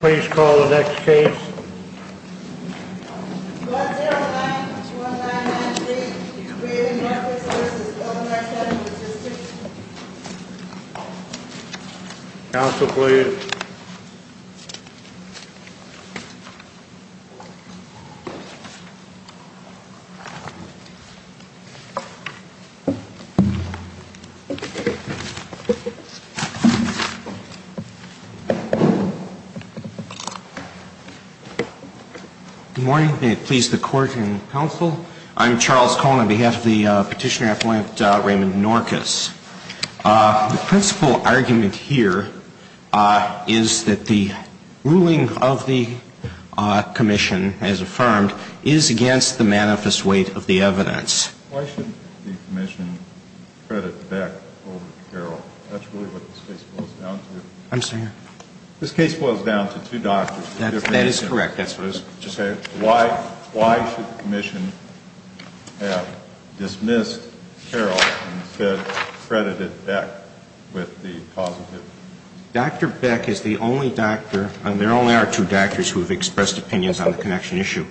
Please call the next case. Counsel, please. Good morning. May it please the Court and Counsel. I'm Charles Cohen on behalf of the petitioner appointed Raymond Norkus. The principal argument here is that the ruling of the commission as affirmed is against the manifest weight of the evidence. Why should the commission credit Beck over Carroll? That's really what this case boils down to. I'm sorry? This case boils down to two doctors. That is correct. That's what it is. Why should the commission have dismissed Carroll and instead credited Beck with the positive? Dr. Beck is the only doctor, and there only are two doctors who have expressed opinions on the connection issue,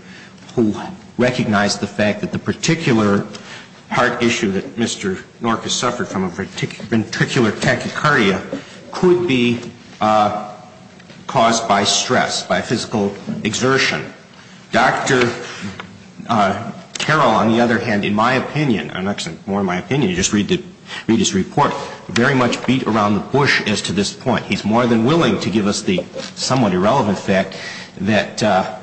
who recognize the fact that the particular heart issue that Mr. Norkus suffered from a ventricular tachycardia could be caused by stress, by physical exertion. Dr. Carroll, on the other hand, in my opinion, I'm not saying more in my opinion, just read his report, very much beat around the bush as to this point. He's more than willing to give us the somewhat irrelevant fact that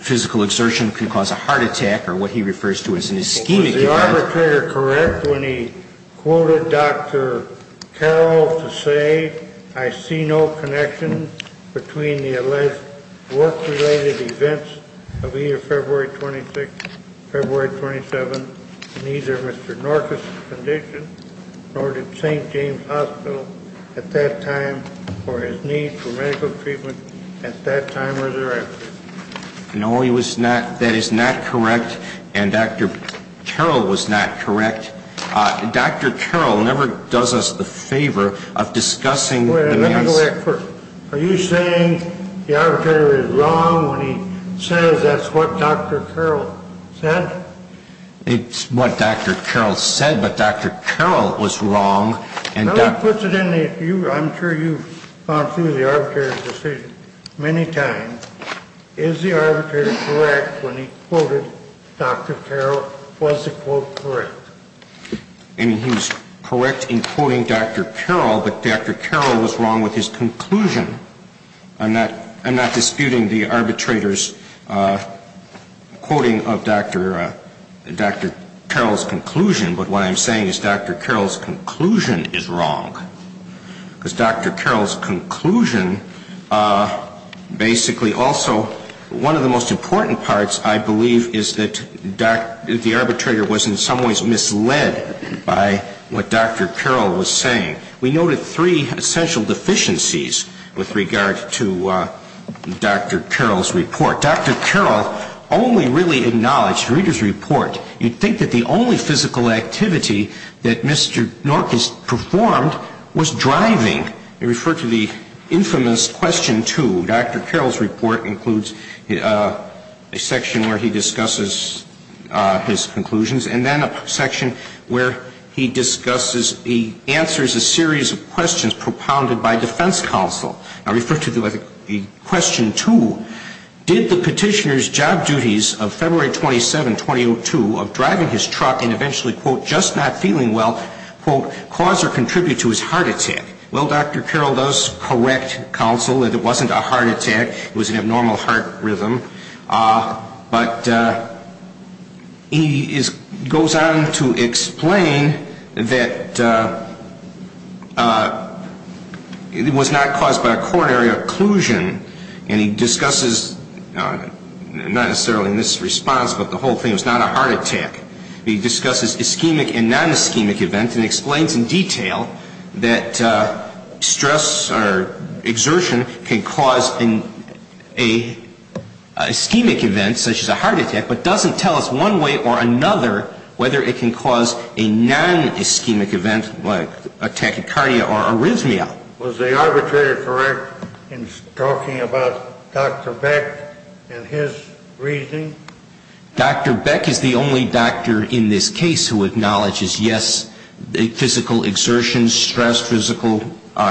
physical exertion could cause a heart attack or what he refers to as an ischemic event. Was Dr. Trigger correct when he quoted Dr. Carroll to say, I see no connection between the alleged work-related events of either February 26th, February 27th, and either Mr. Norkus' condition or the St. James Hospital at that time or his need for medical treatment at that time or thereafter? No, that is not correct, and Dr. Carroll was not correct. Dr. Carroll never does us the favor of discussing the man's- Wait a minute, let me go back first. Are you saying the arbitrator is wrong when he says that's what Dr. Carroll said? It's what Dr. Carroll said, but Dr. Carroll was wrong, and Dr- Is the arbitrator correct when he quoted Dr. Carroll? Was the quote correct? I mean, he was correct in quoting Dr. Carroll, but Dr. Carroll was wrong with his conclusion. I'm not disputing the arbitrator's quoting of Dr. Carroll's conclusion, but what I'm saying is Dr. Carroll's conclusion is wrong. Because Dr. Carroll's conclusion basically also- one of the most important parts, I believe, is that the arbitrator was in some ways misled by what Dr. Carroll was saying. We noted three essential deficiencies with regard to Dr. Carroll's report. Dr. Carroll only really acknowledged the reader's report. You'd think that the only physical activity that Mr. Norquist performed was driving. They refer to the infamous Question 2. Dr. Carroll's report includes a section where he discusses his conclusions, and then a section where he discusses- he answers a series of questions propounded by defense counsel. I refer to the Question 2. Did the petitioner's job duties of February 27, 2002 of driving his truck and eventually, quote, just not feeling well, quote, cause or contribute to his heart attack? Well, Dr. Carroll does correct counsel that it wasn't a heart attack. It was an abnormal heart rhythm. But he goes on to explain that it was not caused by a coronary occlusion, and he discusses- not necessarily in this response, but the whole thing- it was not a heart attack. He discusses ischemic and non-ischemic events and explains in detail that stress or exertion can cause an ischemic event such as a heart attack, but doesn't tell us one way or another whether it can cause a non-ischemic event like a tachycardia or arrhythmia. Was the arbitrator correct in talking about Dr. Beck and his reasoning? Dr. Beck is the only doctor in this case who acknowledges, yes, physical exertion, stress physical,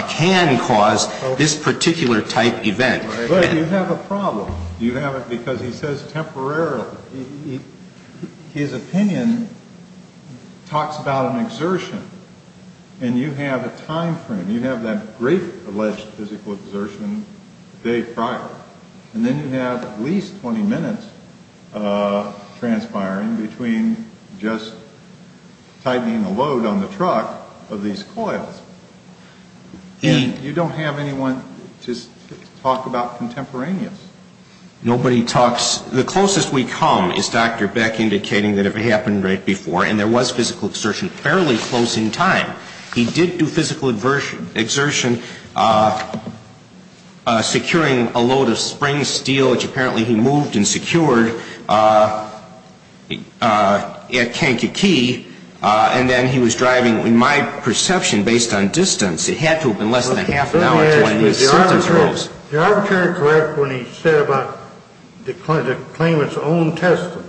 can cause this particular type event. But you have a problem. You have it because he says temporarily. His opinion talks about an exertion, and you have a time frame. You have that great alleged physical exertion a day prior. And then you have at least 20 minutes transpiring between just tightening a load on the truck of these coils. And you don't have anyone to talk about contemporaneous. Nobody talks- the closest we come is Dr. Beck indicating that it happened right before, and there was physical exertion fairly close in time. He did do physical exertion securing a load of spring steel, which apparently he moved and secured at Kankakee. And then he was driving, in my perception, based on distance. It had to have been less than a half an hour to when his sentence rose. Is the arbitrator correct when he said about the claimant's own testimony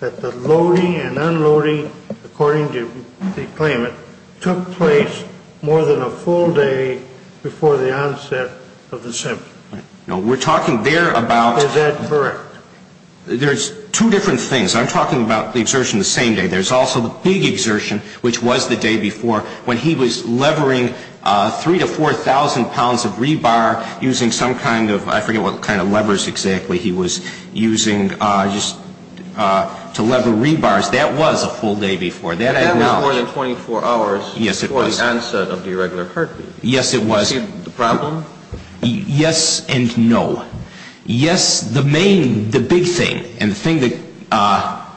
that the loading and unloading, according to the claimant, took place more than a full day before the onset of the sentence? No, we're talking there about- Is that correct? There's two different things. I'm talking about the exertion the same day. There's also the big exertion, which was the day before when he was levering 3,000 to 4,000 pounds of rebar using some kind of- I forget what kind of levers exactly he was using just to lever rebars. That was a full day before. That was more than 24 hours before the onset of the irregular heartbeat. Yes, it was. Do you see the problem? Yes and no. Yes, the main- the big thing and the thing that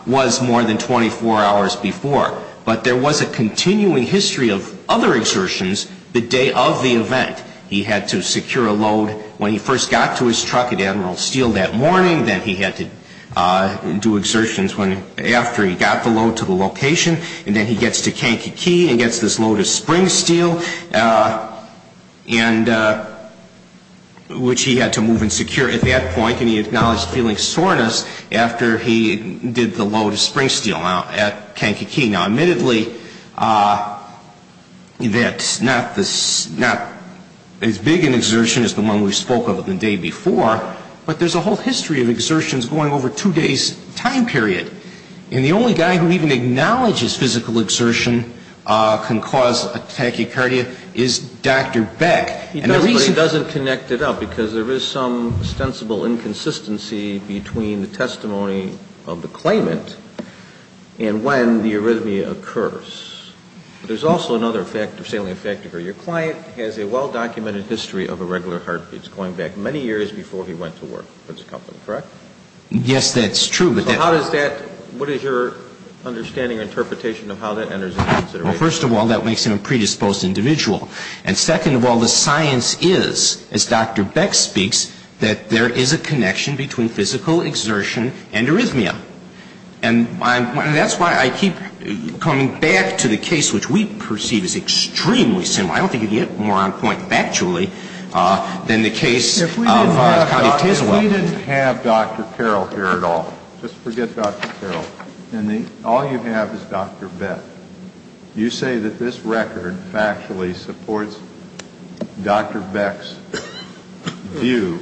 was more than 24 hours before. But there was a continuing history of other exertions the day of the event. He had to secure a load when he first got to his truck at Admiral Steel that morning. Then he had to do exertions after he got the load to the location. And then he gets to Kankakee and gets this load of spring steel, which he had to move and secure at that point. And he acknowledged feeling soreness after he did the load of spring steel at Kankakee. Now, admittedly, that's not as big an exertion as the one we spoke of the day before. But there's a whole history of exertions going over two days' time period. And the only guy who even acknowledges physical exertion can cause a tachycardia is Dr. Beck. He doesn't connect it up because there is some ostensible inconsistency between the testimony of the claimant and when the arrhythmia occurs. There's also another salient factor here. Your client has a well-documented history of irregular heartbeats going back many years before he went to work for this company, correct? Yes, that's true. So how does that – what is your understanding or interpretation of how that enters into consideration? Well, first of all, that makes him a predisposed individual. And second of all, the science is, as Dr. Beck speaks, that there is a connection between physical exertion and arrhythmia. And that's why I keep coming back to the case which we perceive is extremely similar. I don't think you can get more on point factually than the case of Cotty of Tiswell. Well, we didn't have Dr. Carroll here at all. Just forget Dr. Carroll. All you have is Dr. Beck. You say that this record factually supports Dr. Beck's view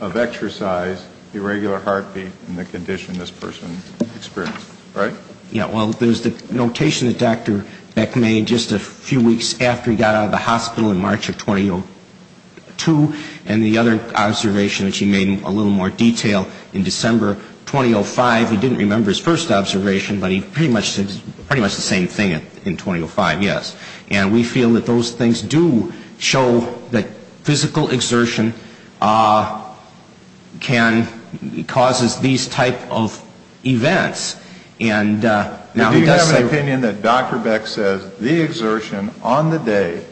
of exercise, irregular heartbeat, and the condition this person experienced, right? Yeah, well, there's the notation that Dr. Beck made just a few weeks after he got out of the hospital in March of 2002, and the other observation that he made in a little more detail in December 2005. He didn't remember his first observation, but he pretty much said pretty much the same thing in 2005, yes. And we feel that those things do show that physical exertion can – causes these type of events. Do you have an opinion that Dr. Beck says the exertion on the day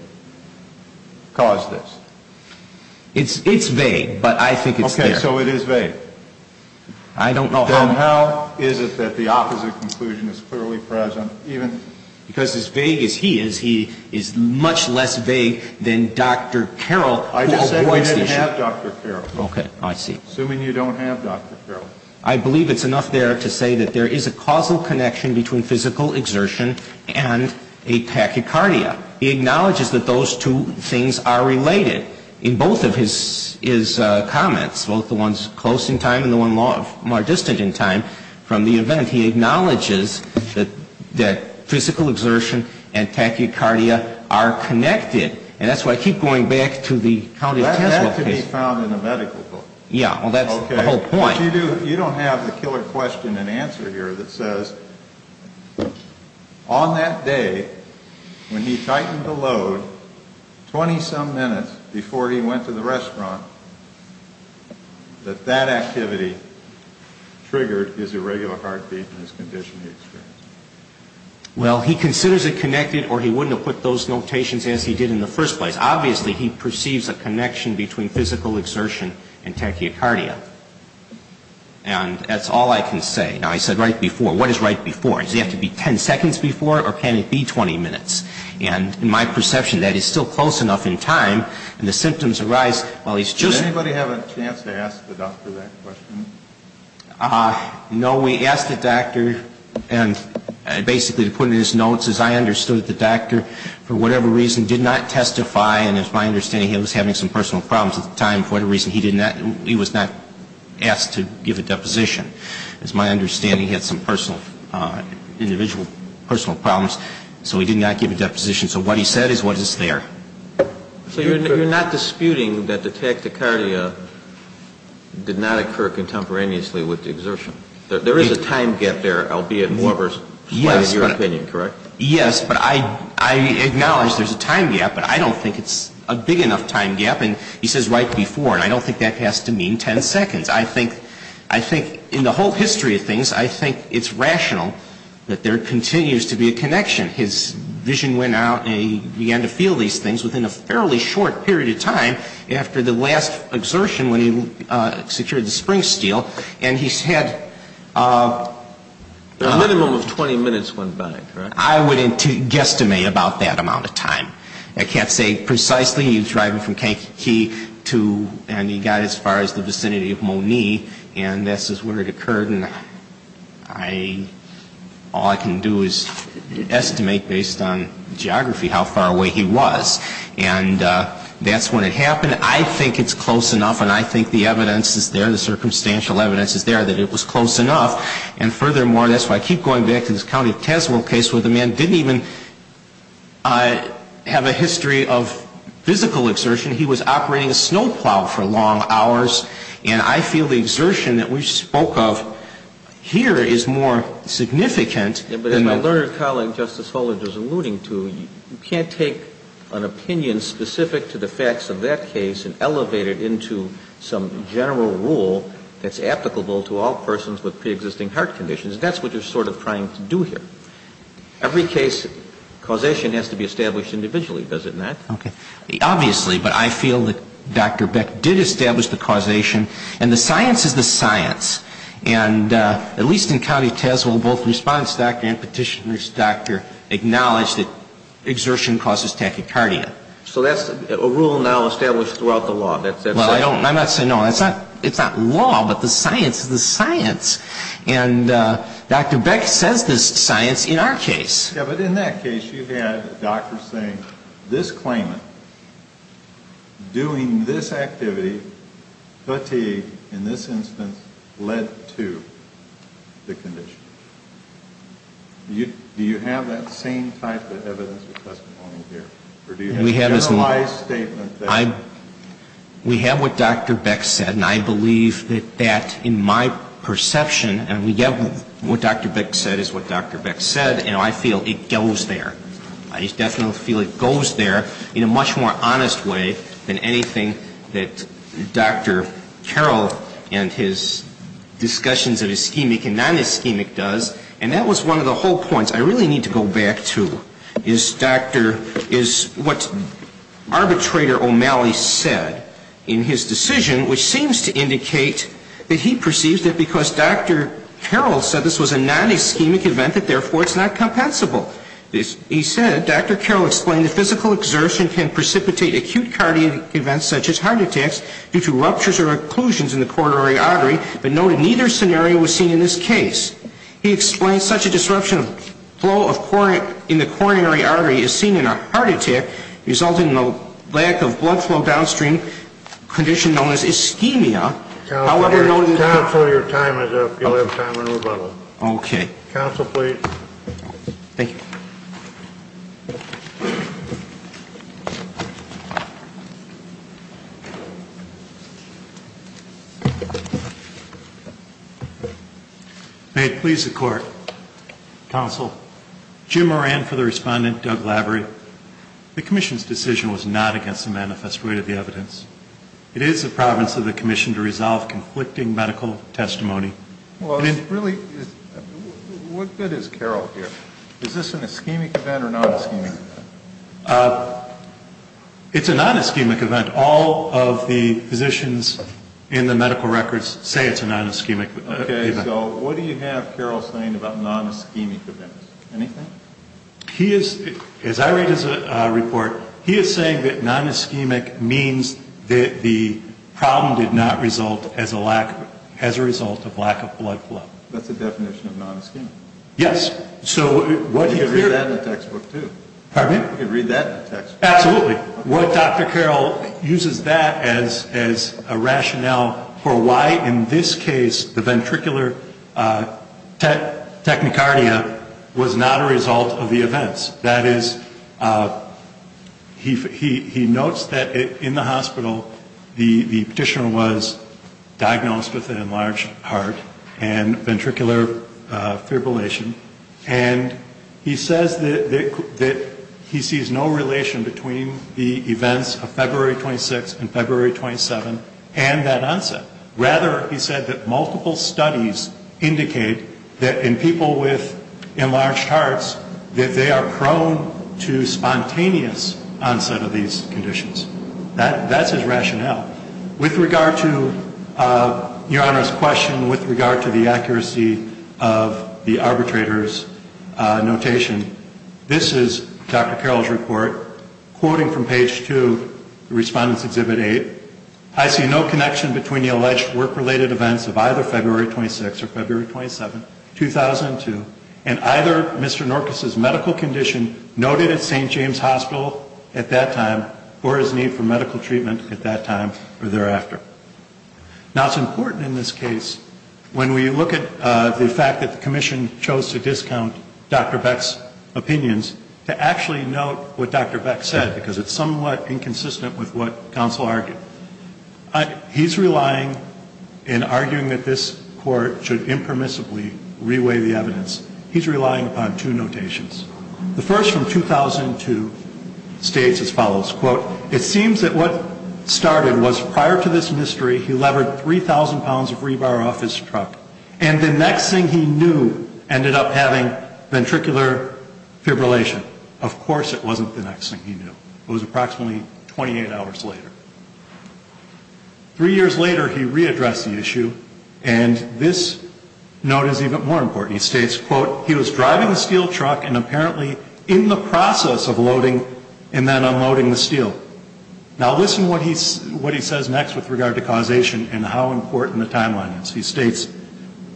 caused this? It's vague, but I think it's there. Okay, so it is vague. I don't know how – Then how is it that the opposite conclusion is clearly present, even – Because as vague as he is, he is much less vague than Dr. Carroll, who avoids the issue. I just said we didn't have Dr. Carroll. Okay, I see. Assuming you don't have Dr. Carroll. I believe it's enough there to say that there is a causal connection between physical exertion and a tachycardia. He acknowledges that those two things are related. In both of his comments, both the ones close in time and the one more distant in time from the event, he acknowledges that physical exertion and tachycardia are connected. And that's why I keep going back to the County of Tesco case. That can be found in a medical book. Yeah, well, that's the whole point. But you don't have the killer question and answer here that says, on that day, when he tightened the load, 20-some minutes before he went to the restaurant, that that activity triggered his irregular heartbeat and his condition he experienced. Well, he considers it connected, or he wouldn't have put those notations as he did in the first place. Obviously, he perceives a connection between physical exertion and tachycardia. And that's all I can say. Now, I said right before. What is right before? Does it have to be 10 seconds before, or can it be 20 minutes? And in my perception, that is still close enough in time, and the symptoms arise while he's choosing. Did anybody have a chance to ask the doctor that question? No. We asked the doctor, and basically to put it in his notes, is I understood the doctor, for whatever reason, did not testify, and it's my understanding he was having some personal problems at the time. For whatever reason, he was not asked to give a deposition. It's my understanding he had some personal problems, so he did not give a deposition. So what he said is what is there. So you're not disputing that the tachycardia did not occur contemporaneously with the exertion? There is a time gap there, albeit more so in your opinion, correct? Yes, but I acknowledge there's a time gap, but I don't think it's a big enough time gap. And he says right before, and I don't think that has to mean 10 seconds. I think in the whole history of things, I think it's rational that there continues to be a connection. His vision went out, and he began to feel these things within a fairly short period of time after the last exertion when he secured the spring steel, and he said the minimum of 20 minutes went by, correct? I wouldn't guesstimate about that amount of time. I can't say precisely. He was driving from Kankakee, and he got as far as the vicinity of Monee, and this is where it occurred. And all I can do is estimate based on geography how far away he was. And that's when it happened. I think it's close enough, and I think the evidence is there, the circumstantial evidence is there, that it was close enough. And furthermore, that's why I keep going back to this County of Tazewell case where the man didn't even have a history of physical exertion. He was operating a snow plow for long hours, and I feel the exertion that we spoke of here is more significant than that. But as my learned colleague, Justice Holder, was alluding to, you can't take an opinion specific to the facts of that case and elevate it into some general rule that's applicable to all persons with preexisting heart conditions. That's what you're sort of trying to do here. Every case, causation has to be established individually, does it not? Okay. Obviously, but I feel that Dr. Beck did establish the causation, and the science is the science. And at least in County of Tazewell, both the response doctor and petitioner's doctor acknowledged that exertion causes tachycardia. So that's a rule now established throughout the law. Well, I'm not saying no. It's not law, but the science is the science. And Dr. Beck says the science in our case. Yeah, but in that case, you had a doctor saying this claimant doing this activity, fatigue, in this instance, led to the condition. Do you have that same type of evidence or testimony here? Or do you have a generalized statement? We have what Dr. Beck said, and I believe that that, in my perception, and we have what Dr. Beck said is what Dr. Beck said, and I feel it goes there. I just definitely feel it goes there in a much more honest way than anything that Dr. Carroll and his discussions of ischemic and non-ischemic does. And that was one of the whole points I really need to go back to, is what arbitrator O'Malley said in his decision, which seems to indicate that he perceived it because Dr. Carroll said this was a non-ischemic event and therefore it's not compensable. He said, Dr. Carroll explained that physical exertion can precipitate acute cardiac events such as heart attacks due to ruptures or occlusions in the coronary artery, but noted neither scenario was seen in this case. He explained such a disruption of flow in the coronary artery is seen in a heart attack resulting in a lack of blood flow downstream condition known as ischemia. Counsel, your time is up. You'll have time for rebuttal. Okay. Counsel, please. Thank you. May it please the Court. Counsel, Jim Moran for the respondent, Doug Lavery. The commission's decision was not against the manifest rate of the evidence. It is the province of the commission to resolve conflicting medical testimony. Well, it really is. What good is Carroll here? Is this an ischemic event or non-ischemic event? It's a non-ischemic event. All of the physicians in the medical records say it's a non-ischemic event. Okay. So what do you have Carroll saying about non-ischemic events? Anything? As I read his report, he is saying that non-ischemic means that the problem did not result as a result of lack of blood flow. That's the definition of non-ischemic. Yes. You could read that in a textbook, too. Pardon me? You could read that in a textbook. Absolutely. What Dr. Carroll uses that as a rationale for why, in this case, the ventricular technicardia was not a result of the events. That is, he notes that in the hospital, the petitioner was diagnosed with an enlarged heart and ventricular fibrillation, and he says that he sees no relation between the events of February 26 and February 27 and that onset. Rather, he said that multiple studies indicate that in people with enlarged hearts, that they are prone to spontaneous onset of these conditions. That's his rationale. With regard to Your Honor's question, with regard to the accuracy of the arbitrator's notation, this is Dr. Carroll's report. Quoting from page 2, Respondent's Exhibit 8, I see no connection between the alleged work-related events of either February 26 or February 27, 2002, and either Mr. Norquist's medical condition noted at St. James Hospital at that time, or his need for medical treatment at that time or thereafter. Now, it's important in this case, when we look at the fact that the Commission chose to discount Dr. Beck's opinions, to actually note what Dr. Beck said, because it's somewhat inconsistent with what counsel argued. He's relying, in arguing that this Court should impermissibly re-weigh the evidence, he's relying upon two notations. The first, from 2002, states as follows, Quote, it seems that what started was prior to this mystery, he levered 3,000 pounds of rebar off his truck, and the next thing he knew ended up having ventricular fibrillation. Of course it wasn't the next thing he knew. It was approximately 28 hours later. Three years later, he re-addressed the issue, and this note is even more important. He states, quote, he was driving a steel truck and apparently in the process of loading and then unloading the steel. Now listen to what he says next with regard to causation and how important the timeline is. He states,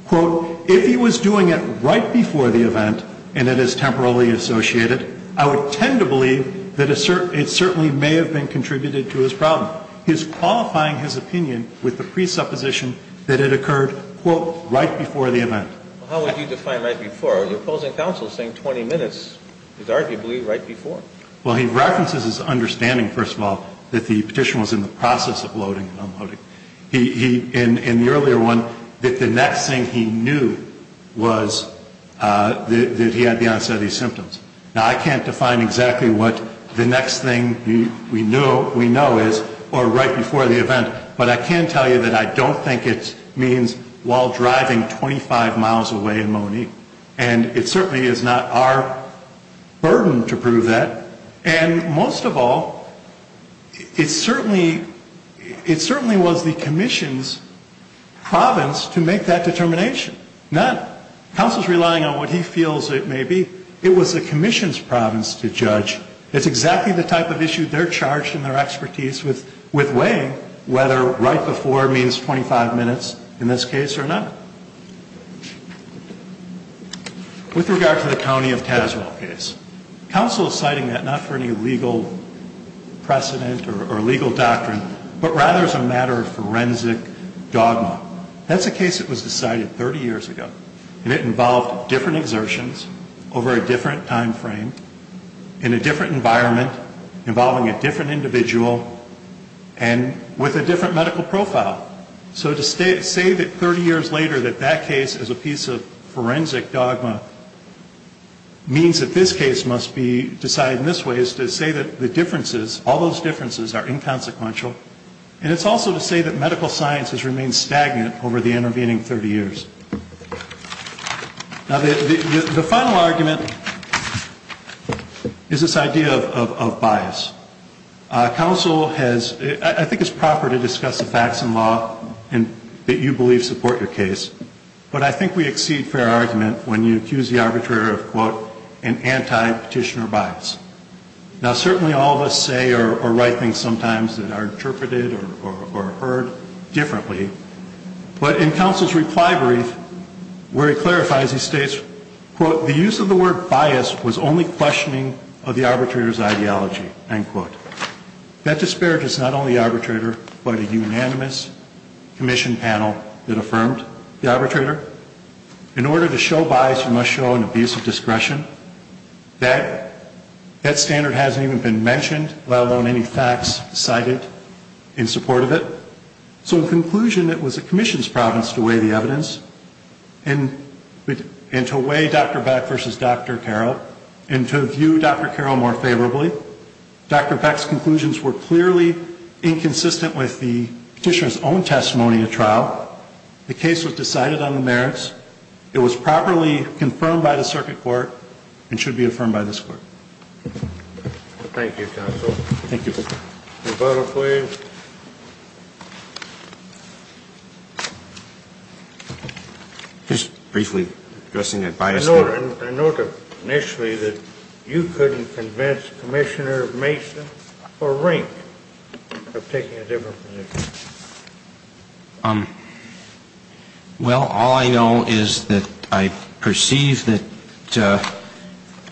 quote, if he was doing it right before the event and it is temporarily associated, I would tend to believe that it certainly may have been contributed to his problem. He is qualifying his opinion with the presupposition that it occurred, quote, right before the event. Well, how would you define right before? Your opposing counsel is saying 20 minutes is arguably right before. Well, he references his understanding, first of all, that the Petition was in the process of loading and unloading. He, in the earlier one, that the next thing he knew was that he had the onset of these symptoms. Now I can't define exactly what the next thing we know is or right before the event, but I can tell you that I don't think it means while driving 25 miles away in Monique. And it certainly is not our burden to prove that. And most of all, it certainly was the Commission's province to make that determination. Not counsel's relying on what he feels it may be. It was the Commission's province to judge. It's exactly the type of issue they're charged in their expertise with weighing whether right before means 25 minutes in this case or not. With regard to the County of Tazewell case, counsel is citing that not for any legal precedent or legal doctrine, but rather as a matter of forensic dogma. That's a case that was decided 30 years ago, and it involved different exertions over a different time frame, in a different environment, involving a different individual, and with a different medical profile. So to say that 30 years later that that case is a piece of forensic dogma means that this case must be decided in this way is to say that the differences, all those differences, are inconsequential. And it's also to say that medical science has remained stagnant over the intervening 30 years. Now the final argument is this idea of bias. Counsel has, I think it's proper to discuss the facts in law that you believe support your case, but I think we exceed fair argument when you accuse the arbitrator of, quote, an anti-petitioner bias. Now certainly all of us say or write things sometimes that are interpreted or heard differently, but in counsel's reply brief, where he clarifies, he states, quote, the use of the word bias was only questioning of the arbitrator's ideology, end quote. That disparages not only the arbitrator, but a unanimous commission panel that affirmed the arbitrator. In order to show bias, you must show an abuse of discretion. That standard hasn't even been mentioned, let alone any facts cited in support of it. So in conclusion, it was the commission's province to weigh the evidence, and to weigh Dr. Beck versus Dr. Carroll, and to view Dr. Carroll more favorably. Dr. Beck's conclusions were clearly inconsistent with the petitioner's own testimony at trial. The case was decided on the merits. It was properly confirmed by the circuit court and should be affirmed by this court. Thank you, counsel. Thank you. Rebuttal, please. Just briefly addressing that bias. I note initially that you couldn't convince Commissioner Mason or Rink of taking a different position. Well, all I know is that I perceive that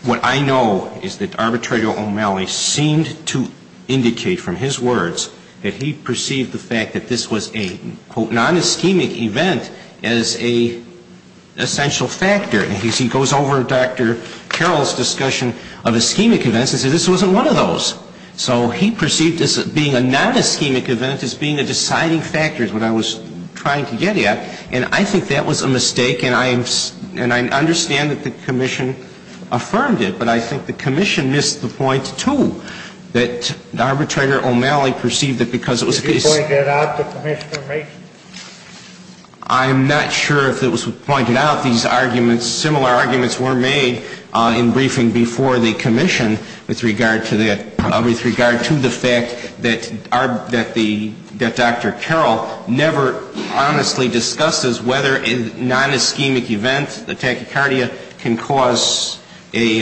what I know is that arbitrator O'Malley seemed to indicate from his words that he perceived the fact that this was a, quote, non-ischemic event as an essential factor. And he goes over Dr. Carroll's discussion of ischemic events and says this wasn't one of those. So he perceived this being a non-ischemic event as being a deciding factor is what I was trying to get at. And I think that was a mistake. And I understand that the commission affirmed it. But I think the commission missed the point, too, that arbitrator O'Malley perceived it because it was a case. Could you point that out to Commissioner Mason? I'm not sure if it was pointed out. Similar arguments were made in briefing before the commission with regard to that, with regard to the fact that Dr. Carroll never honestly discusses whether a non-ischemic event, the tachycardia, can cause a,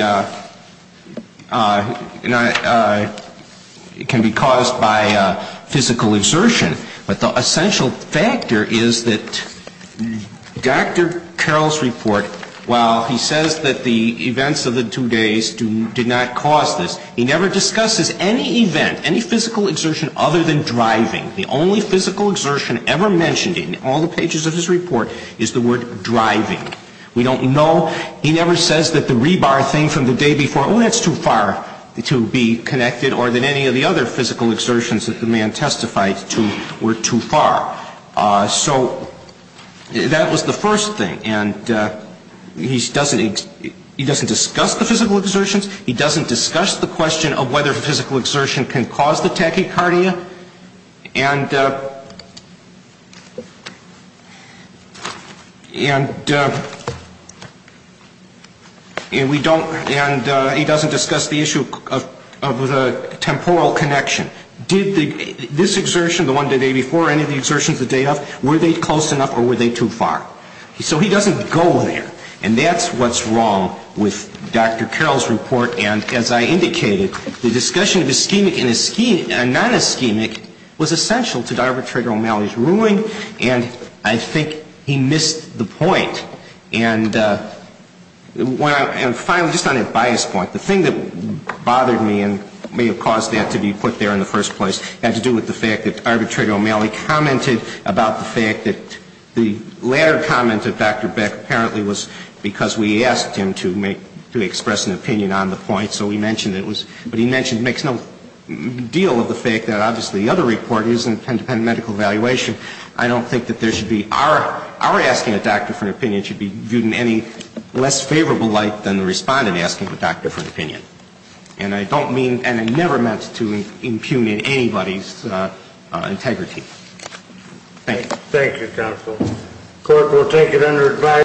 can be caused by physical exertion. But the essential factor is that Dr. Carroll's report, while he says that the events of the two days did not cause this, he never discusses any event, any physical exertion other than driving. The only physical exertion ever mentioned in all the pages of his report is the word driving. We don't know. He never says that the rebar thing from the day before, oh, that's too far to be connected, or that any of the other physical exertions that the man testified to were too far. So that was the first thing. And he doesn't discuss the physical exertions. He doesn't discuss the question of whether physical exertion can cause the tachycardia. And we don't, and he doesn't discuss the issue of the temporal connection. Did this exertion, the one the day before, any of the exertions the day of, were they close enough or were they too far? So he doesn't go there. And that's what's wrong with Dr. Carroll's report. And as I indicated, the discussion of ischemic and non-ischemic was essential to Arbitrator O'Malley's ruling, and I think he missed the point. And finally, just on a bias point, the thing that bothered me and may have caused that to be put there in the first place had to do with the fact that Arbitrator O'Malley commented about the fact that the latter comment of Dr. Beck apparently was because we asked him to make, to express an opinion on the point. So we mentioned it was, but he mentioned, makes no deal of the fact that obviously the other report is an independent medical evaluation. I don't think that there should be, our asking a doctor for an opinion should be viewed in any less favorable light than the respondent asking the doctor for an opinion. And I don't mean, and I never meant to impugn anybody's integrity. Thank you. Thank you, counsel. The court will take it under advice.